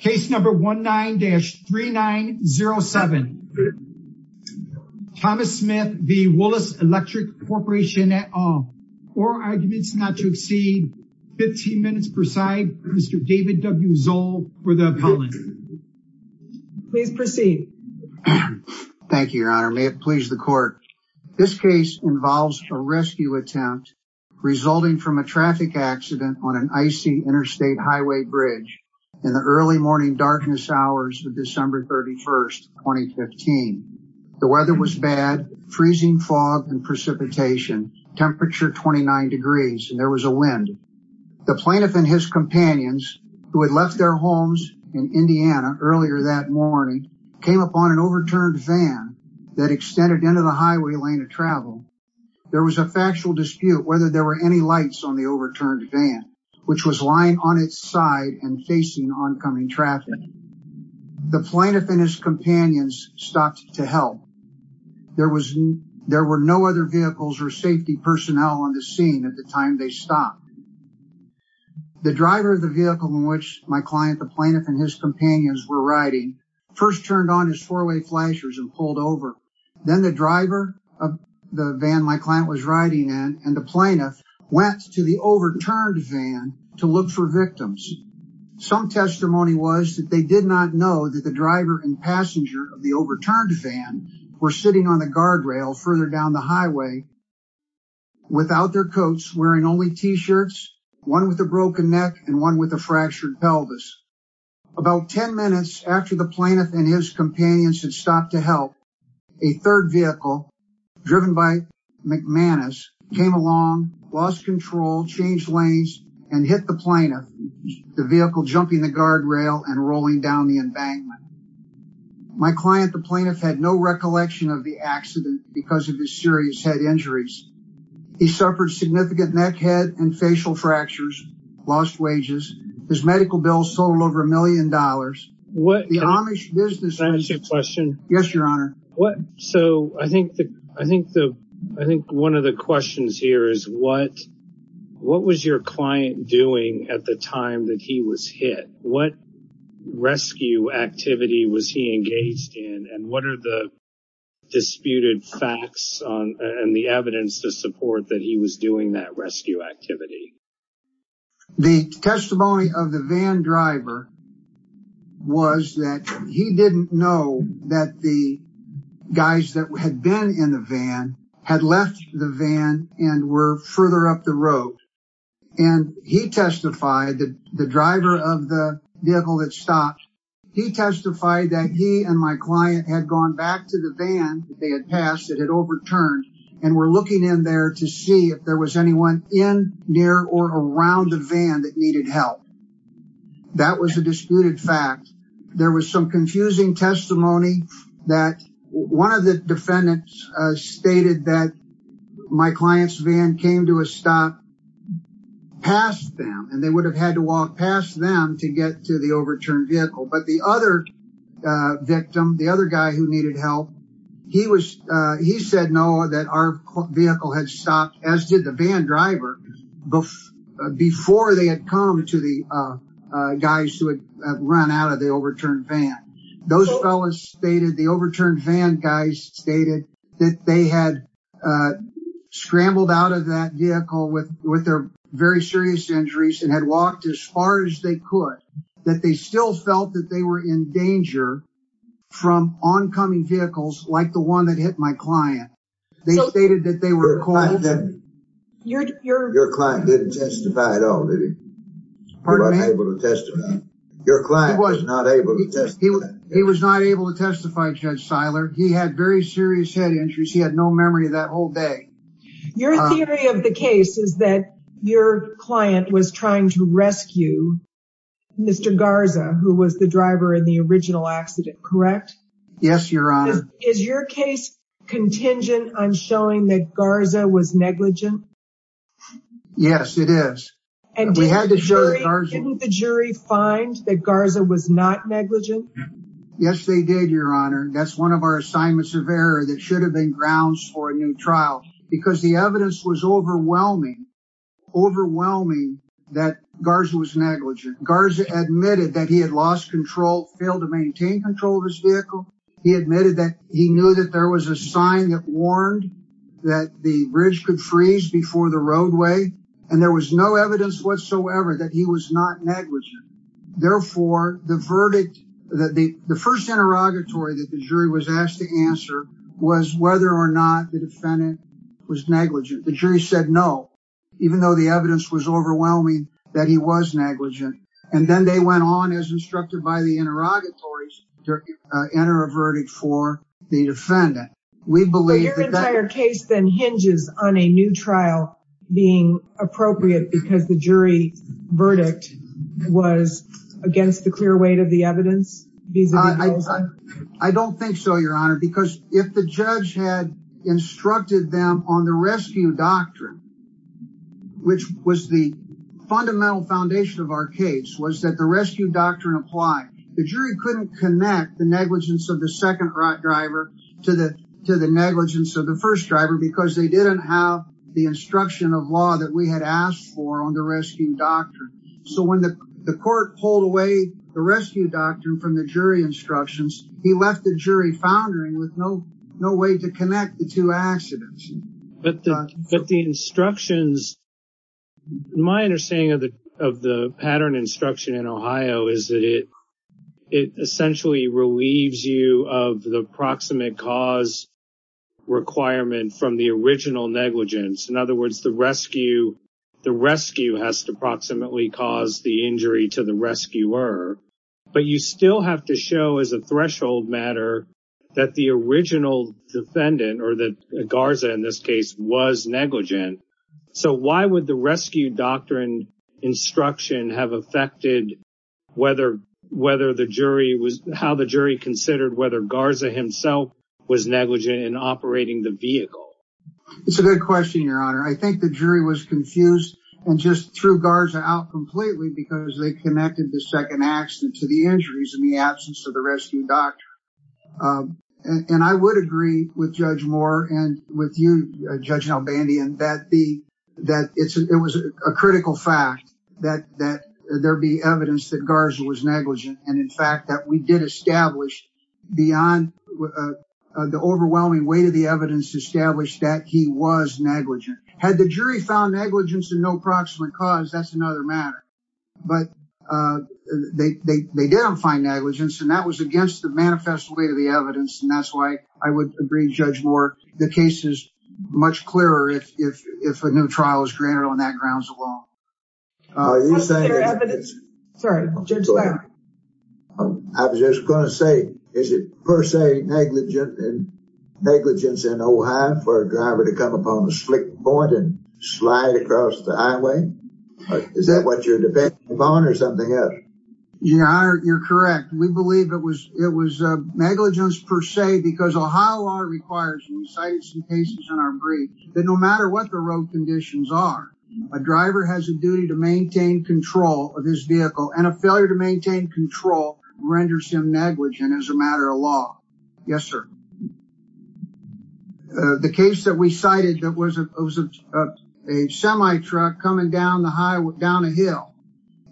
Case number 19-3907. Thomas Smith v. Woolace Electric Corporation et al. Four arguments not to exceed 15 minutes per side. Mr. David W. Zoll for the appellant. Please proceed. Thank you, your honor. May it please the court. This case involves a rescue attempt resulting from a traffic accident on an icy interstate highway bridge in the early morning darkness hours of December 31st, 2015. The weather was bad, freezing fog and precipitation, temperature 29 degrees, and there was a wind. The plaintiff and his companions, who had left their homes in Indiana earlier that morning, came upon an overturned van that extended into the highway lane of travel. There was a factual dispute whether there were any lights on the overturned van, which was lying on its side and facing oncoming traffic. The plaintiff and his companions stopped to help. There were no other vehicles or safety personnel on the scene at the time they stopped. The driver of the vehicle in which my client, the plaintiff, and his companions were riding first turned on his four-way flashers and pulled over. Then the driver of the van my client was riding in and the plaintiff went to the overturned van to look for victims. Some testimony was that they did not know that the driver and passenger of the overturned van were sitting on the guardrail further down the highway without their coats, wearing only t-shirts, one with a broken neck, and one with a fractured pelvis. About 10 minutes after the plaintiff and his companions had stopped to help, a third vehicle driven by McManus came along, lost control, changed lanes, and hit the plaintiff, the vehicle jumping the guardrail and rolling down the embankment. My client, the plaintiff, had no recollection of the accident because of his serious head injuries. He suffered significant neck, head, and facial fractures, lost wages. His medical bills totaled over a million dollars. What was your client doing at the time that he was hit? What rescue activity was he engaged in and what are the disputed facts and the evidence to support that he was doing that rescue activity? The testimony of the van driver was that he didn't know that the guys that had been in the van had left the van and were further up the road. He testified, the driver of the vehicle that stopped, he testified that he and my client had gone back to the van that they had passed that had overturned and were looking in there to see if there was anyone in, near, or around the van that needed help. That was a disputed fact. There was some confusing testimony that one of the defendants stated that my client's stopped past them and they would have had to walk past them to get to the overturned vehicle. But the other victim, the other guy who needed help, he said no, that our vehicle had stopped, as did the van driver, before they had come to the guys who had run out of the overturned van. Those fellas stated, the overturned van guys stated, that they had scrambled out of that vehicle with their very serious injuries and had walked as far as they could, that they still felt that they were in danger from oncoming vehicles like the one that hit my client. They stated that they were cold. Your client didn't testify at all, did he? Pardon me? He wasn't able to to testify, Judge Seiler. He had very serious head injuries. He had no memory of that whole day. Your theory of the case is that your client was trying to rescue Mr. Garza, who was the driver in the original accident, correct? Yes, Your Honor. Is your case contingent on showing that Garza was negligent? Yes, it is. Didn't the jury find that Garza was not negligent? Yes, they did, Your Honor. That's one of our assignments of error that should have been grounds for a new trial, because the evidence was overwhelming, overwhelming that Garza was negligent. Garza admitted that he had lost control, failed to maintain control of his vehicle. He admitted that he knew that there was a sign that warned that the bridge could freeze before the roadway, and there was no evidence whatsoever that he was not negligent. Therefore, the verdict that the first interrogatory that the jury was asked to answer was whether or not the defendant was negligent. The jury said no, even though the evidence was overwhelming that he was negligent, and then they went on as instructed by the interrogatories to enter a verdict for the defendant. We believe that your entire case then hinges on a new trial being appropriate because the jury verdict was against the clear weight of the evidence. I don't think so, Your Honor, because if the judge had instructed them on the rescue doctrine, which was the fundamental foundation of our case, was that the rescue doctrine applied. The jury couldn't connect the negligence of the second driver to the negligence of the first driver because they didn't have the rescue doctrine. So when the court pulled away the rescue doctrine from the jury instructions, he left the jury foundering with no way to connect the two accidents. My understanding of the pattern instruction in Ohio is that it essentially relieves you of the proximate cause requirement from the original negligence. In other words, the rescue has to approximately cause the injury to the rescuer, but you still have to show as a threshold matter that the original defendant, or that Garza in this case, was negligent. So why would the rescue doctrine instruction have affected how the jury considered whether Garza himself was negligent in operating the vehicle? It's a good question, Your Honor. I think the jury was confused and just threw Garza out completely because they connected the second accident to the injuries in the absence of the rescue doctrine. I would agree with Judge Moore and with you, Judge Albandian, that it was a critical fact that there be evidence that Garza was negligent and in fact that we did establish beyond the overwhelming weight of the evidence established that he was negligent. Had the jury found negligence in no proximate cause, that's another matter. But they didn't find negligence and that was against the manifest weight of the evidence and that's why I would agree with Judge Moore. The case is much clearer if a new trial is granted on that grounds alone. I was just going to say, is it per se negligent and negligence in Ohio for a driver to come upon a slick point and slide across the highway? Is that what you're depending upon or something else? Your Honor, you're correct. We believe it was negligence per se because Ohio law requires, and you cited some cases in our brief, that no matter what the road conditions are, a driver has a duty to maintain control of his vehicle and a failure to maintain control renders him negligent as a matter of law. Yes, sir. The case that we cited that was a semi-truck coming down a hill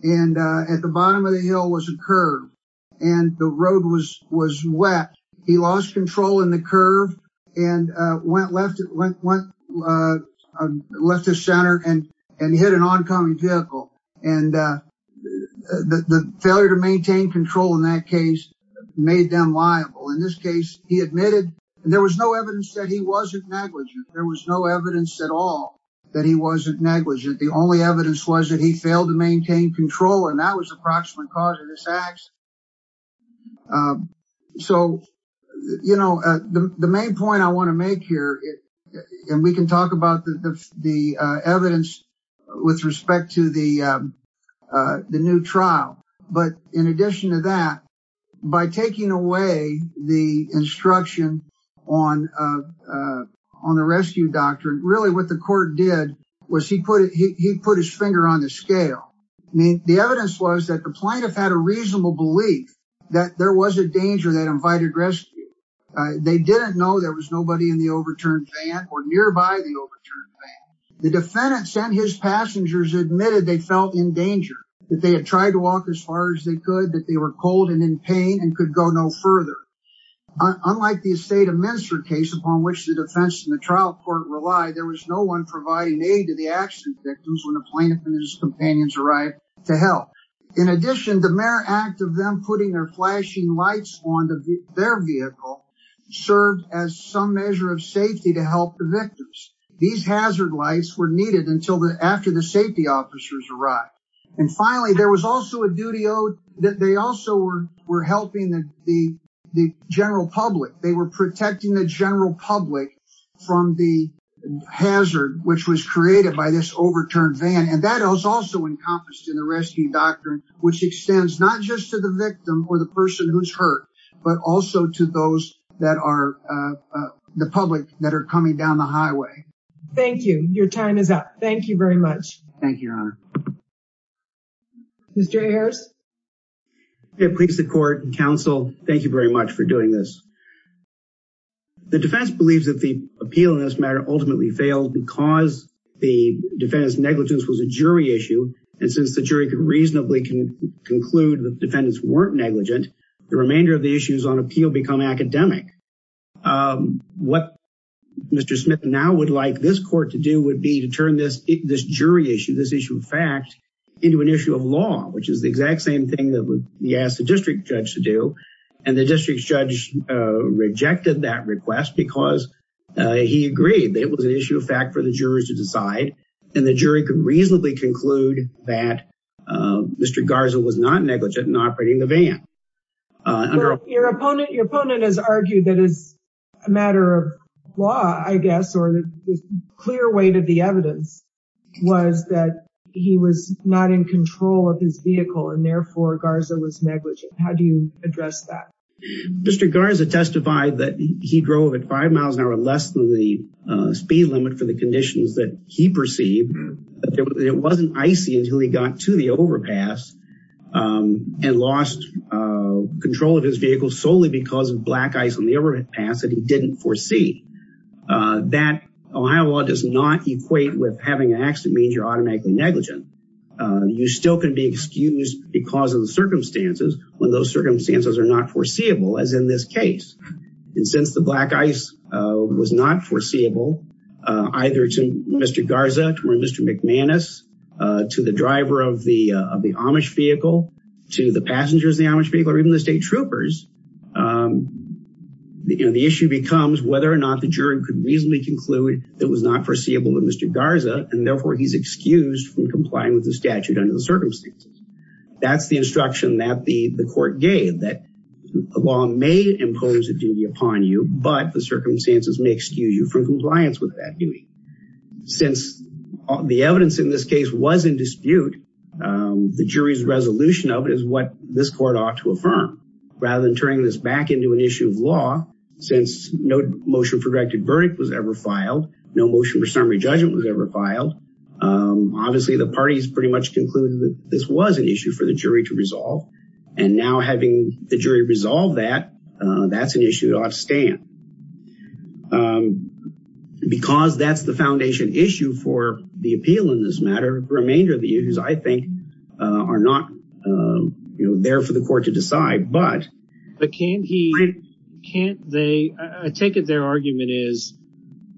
and at the bottom of the hill was a curve and the road was wet. He lost control in the curve and went left of center and hit an oncoming vehicle. The failure to maintain control in that case made them liable. In this case, he admitted there was no evidence that he wasn't negligent. There was no evidence at all that he wasn't negligent. The only evidence was that he failed to maintain control and that was the proximate cause of this accident. The main point I want to make here, and we can talk about the evidence with respect to the new trial, but in addition to that, by taking away the instruction on the rescue doctrine, really what the court did was he put his finger on the scale. The evidence was that the plaintiff had a reasonable belief that there was a danger that invited rescue. They didn't know there was nobody in the overturned van or nearby the overturned van. The defendants and his passengers admitted they felt in danger, that they had tried to walk as far as they could, that they were cold and in pain and could go no further. Unlike the estate of Minster case, upon which the defense and the trial court relied, there was no one providing aid to the accident victims when the mere act of them putting their flashing lights on their vehicle served as some measure of safety to help the victims. These hazard lights were needed until after the safety officers arrived. Finally, there was also a duty owed that they also were helping the general public. They were protecting the general public from the hazard which was created by this overturned van. That was also encompassed in the rescue doctrine, which extends not just to the victim or the person who's hurt, but also to those that are the public that are coming down the highway. Thank you. Your time is up. Thank you very much. Thank you, Your Honor. Mr. A. Harris. Hey, police, the court, counsel, thank you very much for doing this. The defense believes that the appeal in this matter ultimately failed because the defendant's negligence was a jury issue. Since the jury could reasonably conclude that defendants weren't negligent, the remainder of the issues on appeal become academic. What Mr. Smith now would like this court to do would be to turn this jury issue, this issue of fact, into an issue of law, which is the exact same thing that he asked the district judge to do. The district judge rejected that request because he agreed that it was an issue of fact for the district judge to decide, and the jury could reasonably conclude that Mr. Garza was not negligent in operating the van. Your opponent has argued that it's a matter of law, I guess, or the clear weight of the evidence was that he was not in control of his vehicle and therefore Garza was negligent. How do you address that? Mr. Garza testified that he drove at five miles an hour less than the speed limit for the conditions that he perceived, but it wasn't icy until he got to the overpass and lost control of his vehicle solely because of black ice on the overpass that he didn't foresee. That, Ohio law does not equate with having an accident means you're automatically negligent. You still can be excused because of the circumstances when those circumstances are not foreseeable as in this case. Since the black ice was not foreseeable either to Mr. Garza or Mr. McManus, to the driver of the Amish vehicle, to the passengers of the Amish vehicle, or even the state troopers, the issue becomes whether or not the jury could reasonably conclude that it was not foreseeable to Mr. Garza and therefore he's excused from complying with the statute under the circumstances. That's the instruction that the court gave that the law may impose a duty upon you, but the circumstances may excuse you from compliance with that duty. Since the evidence in this case was in dispute, the jury's resolution of it is what this court ought to affirm. Rather than turning this back into an issue of law, since no motion for directed verdict was ever filed, no motion for summary judgment was ever filed, obviously the parties concluded that this was an issue for the jury to resolve and now having the jury resolve that, that's an issue to outstand. Because that's the foundation issue for the appeal in this matter, the remainder of the issues, I think, are not there for the court to decide. I take it their argument is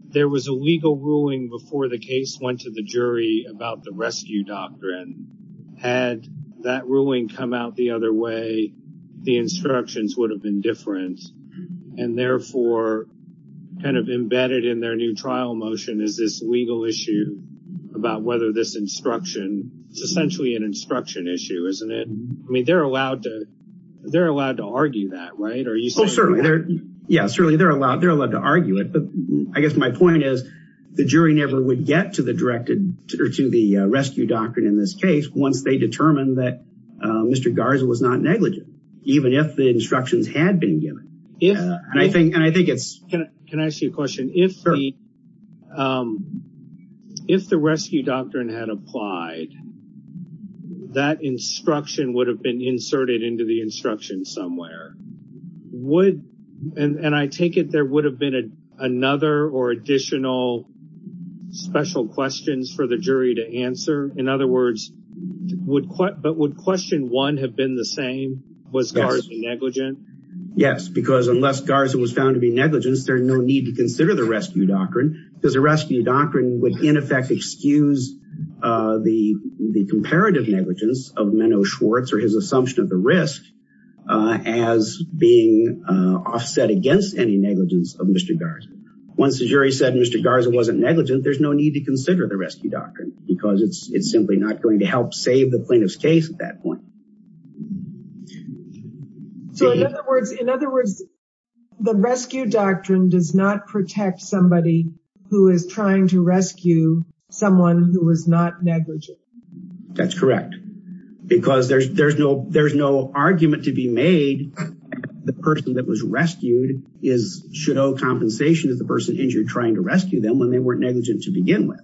there was a legal ruling before the case went to the jury about the rescue doctrine. Had that ruling come out the other way, the instructions would have been different and therefore kind of embedded in their new trial motion is this legal issue about whether this instruction, it's essentially an instruction issue, isn't it? I mean, they're allowed to argue that, right? Oh, certainly. Yeah, certainly they're allowed to argue it, I guess my point is the jury never would get to the rescue doctrine in this case once they determined that Mr. Garza was not negligent, even if the instructions had been given. Can I ask you a question? If the rescue doctrine had applied, that instruction would have been inserted into the instruction somewhere. Would, and I take it there would have been another or additional special questions for the jury to answer? In other words, would question one have been the same? Was Garza negligent? Yes, because unless Garza was found to be negligent, there's no need to consider the rescue doctrine because the rescue doctrine would in effect excuse the comparative negligence of being offset against any negligence of Mr. Garza. Once the jury said Mr. Garza wasn't negligent, there's no need to consider the rescue doctrine because it's simply not going to help save the plaintiff's case at that point. So in other words, the rescue doctrine does not protect somebody who is trying to rescue someone who was not negligent. That's correct, because there's no argument to be made that the person that was rescued should owe compensation to the person injured trying to rescue them when they weren't negligent to begin with.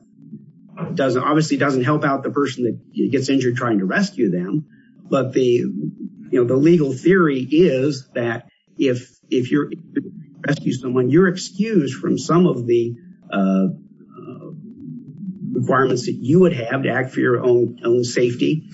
It doesn't, obviously doesn't help out the person that gets injured trying to rescue them, but the legal theory is that if you're rescuing someone, you're excused from some of the requirements that you would have to act for your own safety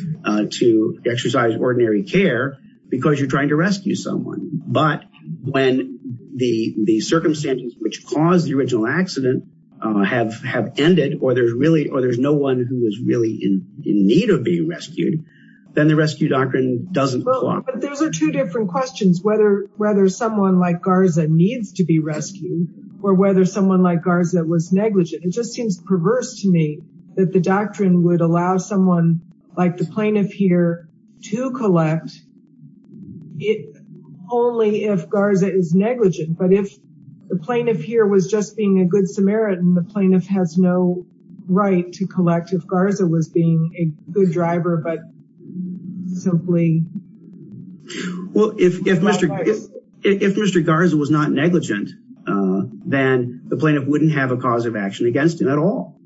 to exercise ordinary care because you're trying to rescue someone. But when the circumstances which caused the original accident have ended or there's no one who is really in need of being rescued, then the rescue doctrine doesn't apply. But those are two different questions, whether someone like Garza needs to be rescued or whether someone like Garza was perverse to me, that the doctrine would allow someone like the plaintiff here to collect only if Garza is negligent. But if the plaintiff here was just being a good Samaritan, the plaintiff has no right to collect if Garza was being a good driver, but simply... Well, if Mr. Garza was not negligent, then the plaintiff wouldn't have a cause of action against him at all.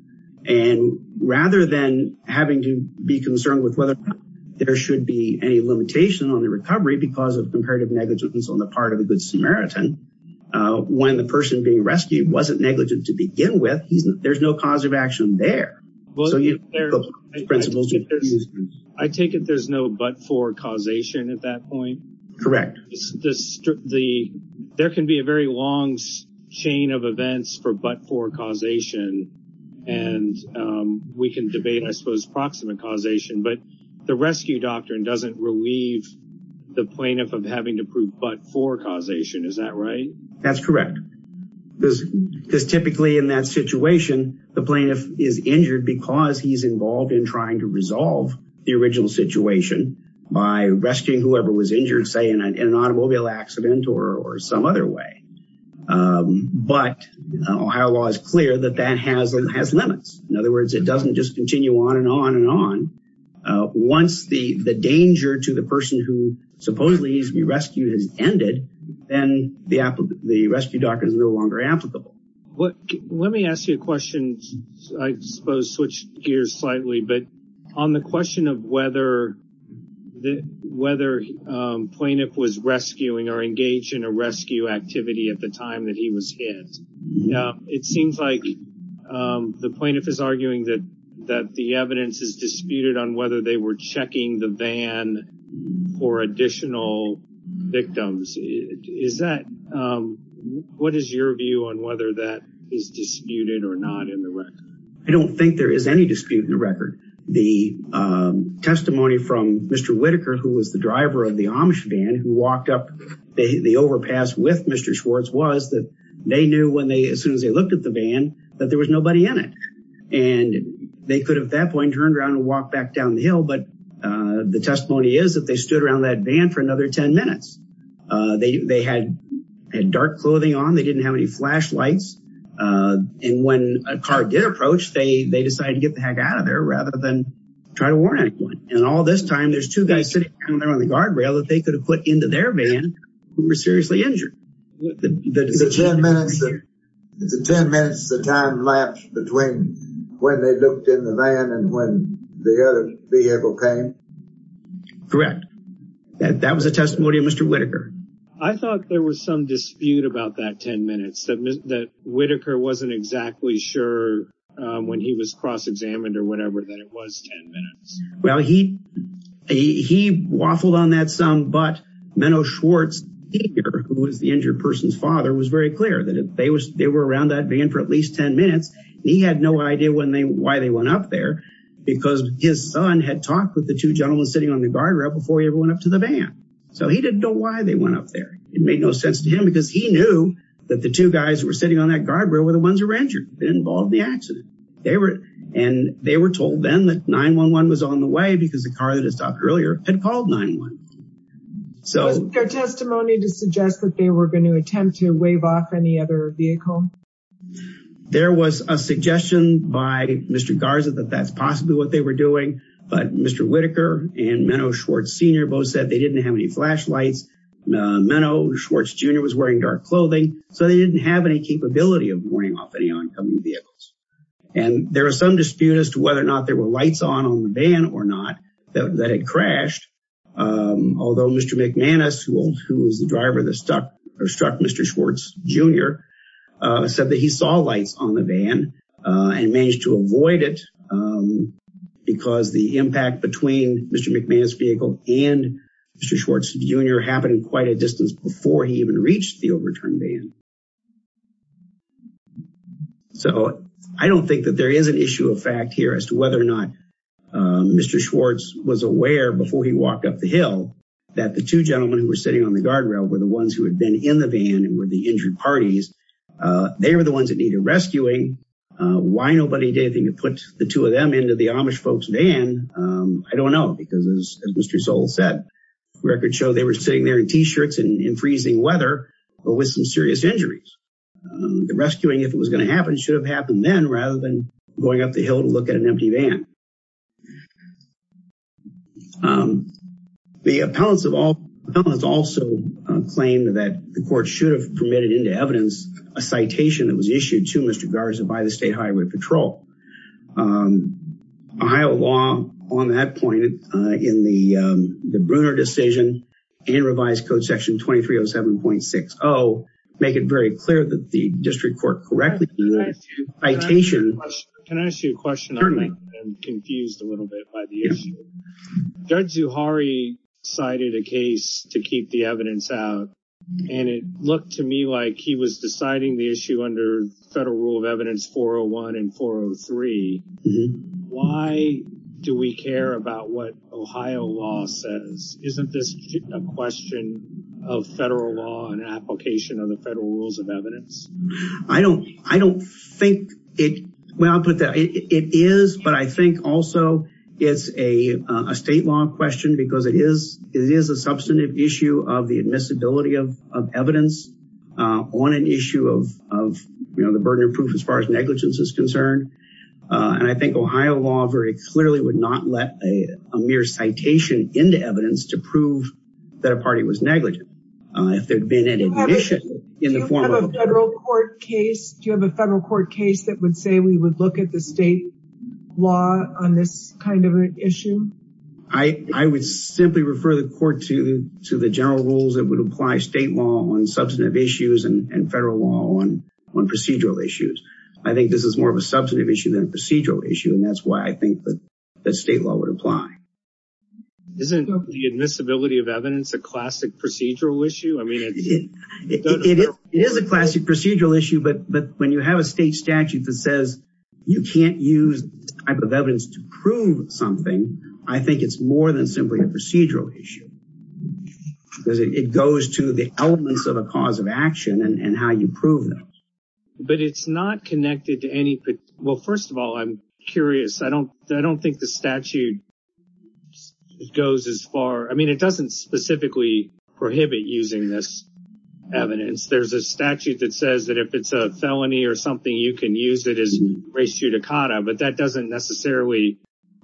And rather than having to be concerned with whether there should be any limitation on the recovery because of comparative negligence on the part of a good Samaritan, when the person being rescued wasn't negligent to begin with, there's no cause of action there. I take it there's no but-for causation at that point? Correct. There can be a very long chain of events for but-for causation, and we can debate, I suppose, proximate causation, but the rescue doctrine doesn't relieve the plaintiff of having to prove but-for causation. Is that right? That's correct. Because typically in that situation, the plaintiff is injured because he's involved in trying to resolve the original situation by rescuing whoever was injured, say, in an automobile accident or some other way. But Ohio law is clear that that has limits. In other words, it doesn't just continue on and on and on. Once the danger to the person who supposedly needs to be rescued has ended, then the rescue doctrine is no longer applicable. Let me ask you a question. I suppose switch gears slightly, but on the question of whether plaintiff was rescuing or engaged in a rescue activity at the time that he was hit, it seems like the plaintiff is arguing that the evidence is disputed on whether they were is disputed or not in the record. I don't think there is any dispute in the record. The testimony from Mr. Whitaker, who was the driver of the Amish van who walked up the overpass with Mr. Schwartz, was that they knew when they, as soon as they looked at the van, that there was nobody in it. And they could have at that point turned around and walked back down the hill, but the testimony is that they stood around that van for another 10 minutes. They had dark clothing on. They didn't have any flashlights. And when a car did approach, they decided to get the heck out of there rather than try to warn anyone. And all this time, there's two guys sitting down there on the guardrail that they could have put into their van who were seriously injured. Is it 10 minutes the time lapse between when they looked in the van and when the other vehicle came? Correct. That was a testimony of Mr. Whitaker. I thought there was some dispute about that 10 minutes, that Whitaker wasn't exactly sure when he was cross-examined or whatever that it was 10 minutes. Well, he waffled on that some, but Menno Schwartz, who was the injured person's father, was very clear that they were around that van for at least 10 minutes. He had no idea why they went up there because his son had talked with the two gentlemen sitting on the guardrail before he ever went up there. It made no sense to him because he knew that the two guys who were sitting on that guardrail were the ones who were injured and involved in the accident. And they were told then that 911 was on the way because the car that had stopped earlier had called 911. Was there testimony to suggest that they were going to attempt to wave off any other vehicle? There was a suggestion by Mr. Garza that that's possibly what they were doing, but Mr. Whitaker and Menno Schwartz Sr. both said they didn't have any flashlights. Menno Schwartz Jr. was wearing dark clothing, so they didn't have any capability of warning off any oncoming vehicles. And there was some dispute as to whether or not there were lights on on the van or not that had crashed. Although Mr. McManus, who was the driver that struck Mr. Schwartz Jr., said that he saw lights on the van and managed to avoid it because the impact between Mr. Schwartz Jr. happened quite a distance before he even reached the overturned van. So I don't think that there is an issue of fact here as to whether or not Mr. Schwartz was aware before he walked up the hill that the two gentlemen who were sitting on the guardrail were the ones who had been in the van and were the injured parties. They were the ones that needed rescuing. Why nobody did anything to put the two of them into the Amish folks van, I don't know. Because as Mr. Sowell said, records show they were sitting there in t-shirts and in freezing weather but with some serious injuries. The rescuing, if it was going to happen, should have happened then rather than going up the hill to look at an empty van. The appellants also claimed that the court should have permitted into evidence a citation that was on that point in the Brunner decision and revised code section 2307.60, make it very clear that the district court correctly permitted a citation. Can I ask you a question? I've been confused a little bit by the issue. Judge Zuhari cited a case to keep the evidence out and it looked to me like he was deciding the issue under federal rule of evidence 401 and 403. Why do we care about what Ohio law says? Isn't this a question of federal law and application of the federal rules of evidence? I don't think it is, but I think also it's a state law question because it is a substantive issue of admissibility of evidence on an issue of the Brunner proof as far as negligence is concerned. And I think Ohio law very clearly would not let a mere citation into evidence to prove that a party was negligent if there'd been an admission in the form of a federal court case. Do you have a federal court case that would say we would look at the state law on this kind of an issue? I would simply refer the court to the general rules that would apply state law on substantive issues and federal law on procedural issues. I think this is more of a substantive issue than a procedural issue and that's why I think that state law would apply. Isn't the admissibility of evidence a classic procedural issue? I mean, it is a classic procedural issue, but when you have a state statute that says you can't use this type of evidence to prove something, I think it's more than simply a procedural issue because it goes to the elements of a cause of action and how you prove them. But it's not connected to any... Well, first of all, I'm curious. I don't think the statute goes as far... I mean, it doesn't specifically prohibit using this evidence. There's a statute that says that if it's a felony or something, you can use it as res judicata, but that doesn't necessarily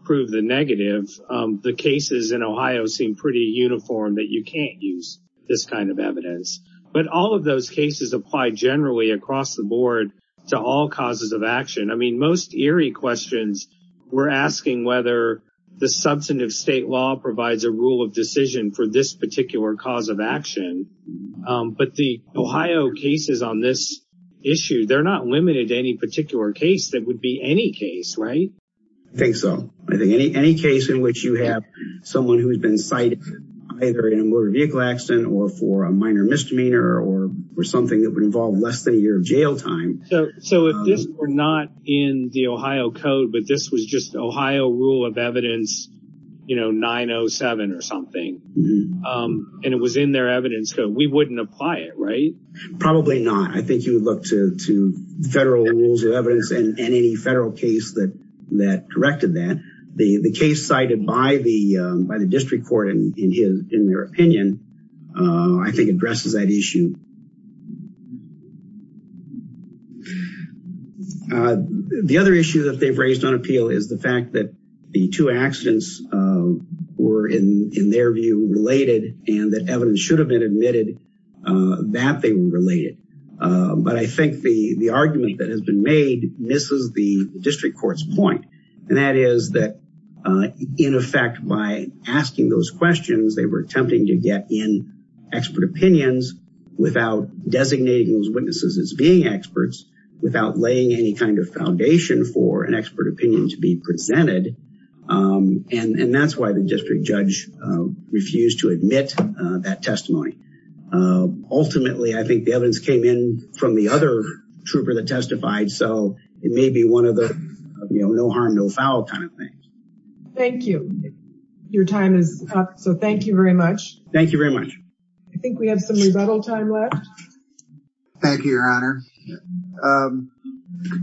prove the negative. The cases in Ohio seem pretty uniform that you can't use this kind of evidence. But all of those cases apply generally across the board to all causes of action. I mean, most eerie questions we're asking whether the substantive state law provides a rule of decision for this particular cause of action. But the Ohio cases on this issue, they're not limited to any particular case that would be any case, right? I think so. I think any case in which you have someone who's been cited either in a motor vehicle accident or for a minor misdemeanor or something that would involve less than a year of jail time. So if this were not in the Ohio code, but this was just Ohio rule of evidence, you know, 907 or something, and it was in their evidence code, we wouldn't apply it, right? Probably not. I think you would look to federal rules of evidence and any federal case that directed that. The case cited by the district court in their opinion, I think addresses that issue. The other issue that they've raised on appeal is the fact that the two accidents were in their view related and that evidence should have been admitted that they were related. But I think the argument that has been made misses the district court's point. And that is that in effect by asking those questions, they were attempting to get in expert opinions without designating those witnesses as being experts, without laying any kind of foundation for an expert opinion to be presented. And that's why the district judge refused to admit that testimony. Ultimately, I think the evidence came in from the other trooper that testified. So it may be one of the, you know, no harm, no foul kind of things. Thank you. Your time is up. So thank you very much. Thank you very much. I think we have some rebuttal time left. Thank you, your honor.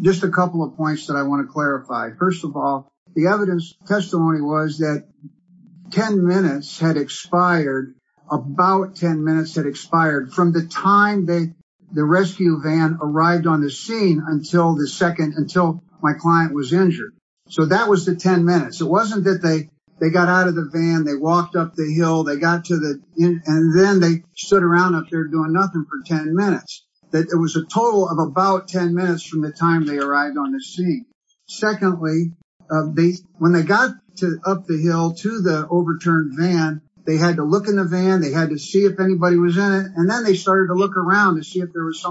Just a couple of points that I want to clarify. First of all, the evidence testimony was that 10 minutes had expired, about 10 minutes had expired from the time that the rescue van arrived on the scene until the second, until my client was injured. So that was the 10 minutes. It wasn't that they got out of the van, they walked up the hill, they got to the end, and then they stood around up there doing nothing for 10 minutes. That it was a total of about 10 minutes from the time they arrived on the scene. Secondly, when they got to up the hill to the overturned van, they had to look in the van, they had to see if anybody was in it. And then they started to look around to see if there was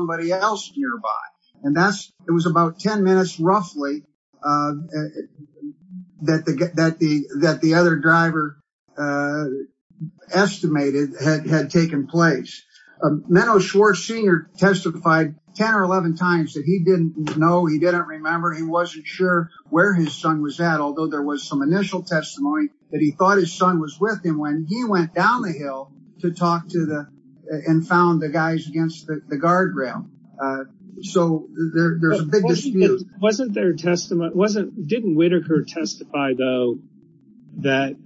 estimated had taken place. Menno Schwartz Sr. testified 10 or 11 times that he didn't know, he didn't remember, he wasn't sure where his son was at, although there was some initial testimony that he thought his son was with him when he went down the hill to talk to the, and found the guys against the guardrail. So there's a big dispute. Wasn't there testimony, wasn't, didn't Whitaker testify though, that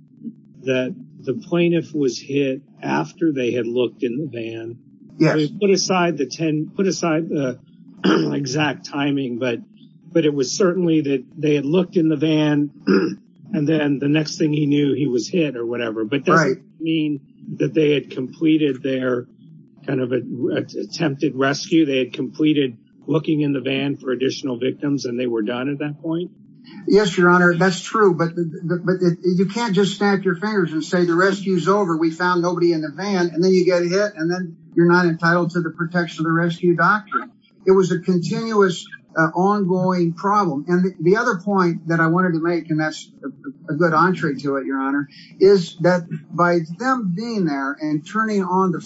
the plaintiff was hit after they had looked in the van? Yes. Put aside the 10, put aside the exact timing, but it was certainly that they had looked in the van, and then the next thing he knew he was hit or whatever. Right. But that doesn't mean that they had completed their kind of attempted rescue, they had completed looking in the van for additional victims and they were done at that point? Yes, Your Honor, that's true. But you can't just snap your fingers and say the rescue's over, we found nobody in the van, and then you get hit, and then you're not entitled to the protection of the rescue doctrine. It was a continuous, ongoing problem. And the other point that I wanted to make, and that's a good entree to it, Your Honor, is that by them being there and turning on the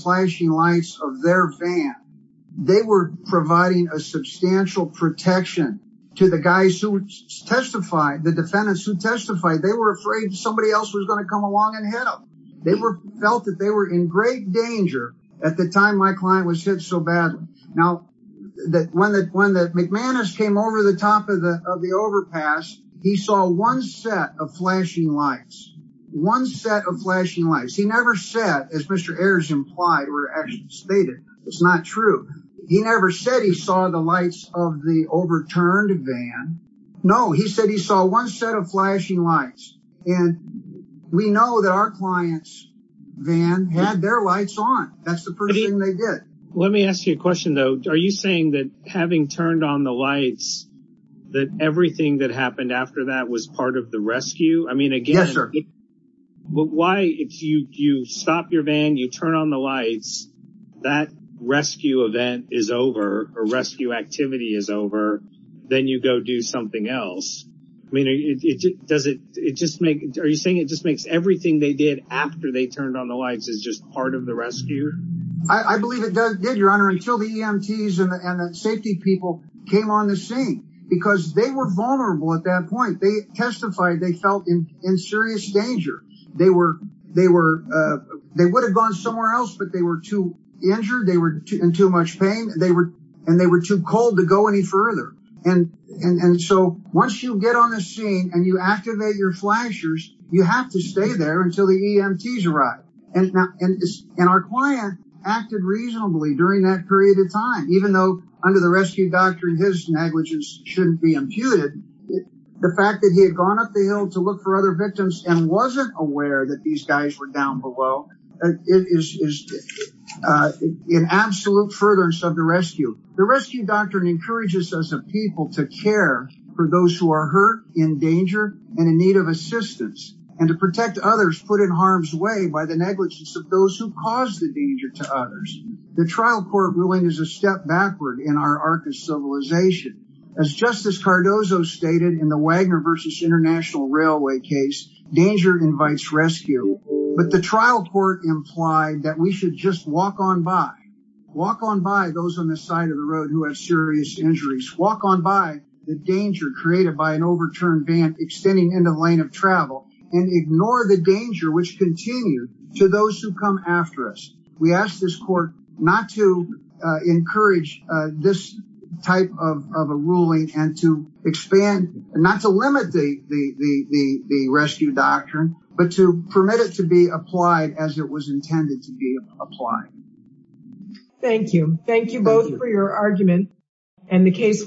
a substantial protection to the guys who testified, the defendants who testified, they were afraid somebody else was going to come along and hit them. They felt that they were in great danger at the time my client was hit so badly. Now, when the McManus came over the top of the overpass, he saw one set of flashing lights, one set of flashing lights. He never said, as Mr. Ayers implied or actually stated, it's not true. He never said he saw the lights of the overturned van. No, he said he saw one set of flashing lights. And we know that our client's van had their lights on. That's the first thing they did. Let me ask you a question, though. Are you saying that having turned on the lights, that everything that happened after that was part of the rescue? I mean, again, but why if you stop your van, you turn on the lights, that rescue event is over, a rescue activity is over, then you go do something else. I mean, does it just make are you saying it just makes everything they did after they turned on the lights is just part of the rescue? I believe it did, Your Honor, until the EMTs and the safety people came on the scene because they were vulnerable at that point. They testified they felt in serious danger. They were they were they would have gone somewhere else, but they were too injured. They were in too much pain and they were and they were too cold to go any further. And and so once you get on the scene and you activate your flashers, you have to stay there until the EMTs arrive. And now and our client acted reasonably during that period of time, even though under the rescue doctrine, his negligence shouldn't be imputed. The fact that he had gone up the hill to look for other victims and wasn't aware that these guys were down below is in absolute furtherance of the rescue. The rescue doctrine encourages us as a people to care for those who are hurt, in danger and in need of assistance and to protect others put in harm's way by the negligence of those who cause the danger to others. The trial court ruling is a step backward in our arc of civilization. As Justice Cardozo stated in the Wagner versus International Railway case, danger invites rescue. But the trial court implied that we should just walk on by, walk on by those on the side of the road who have serious injuries, walk on by the danger created by an overturned van extending into the lane of travel and ignore the danger which continued to those who come after us. We ask this court not to encourage this type of a ruling and to expand, not to limit the rescue doctrine, but to permit it to be applied as it was intended to be applied. Thank you. Thank you both for your argument and the case will be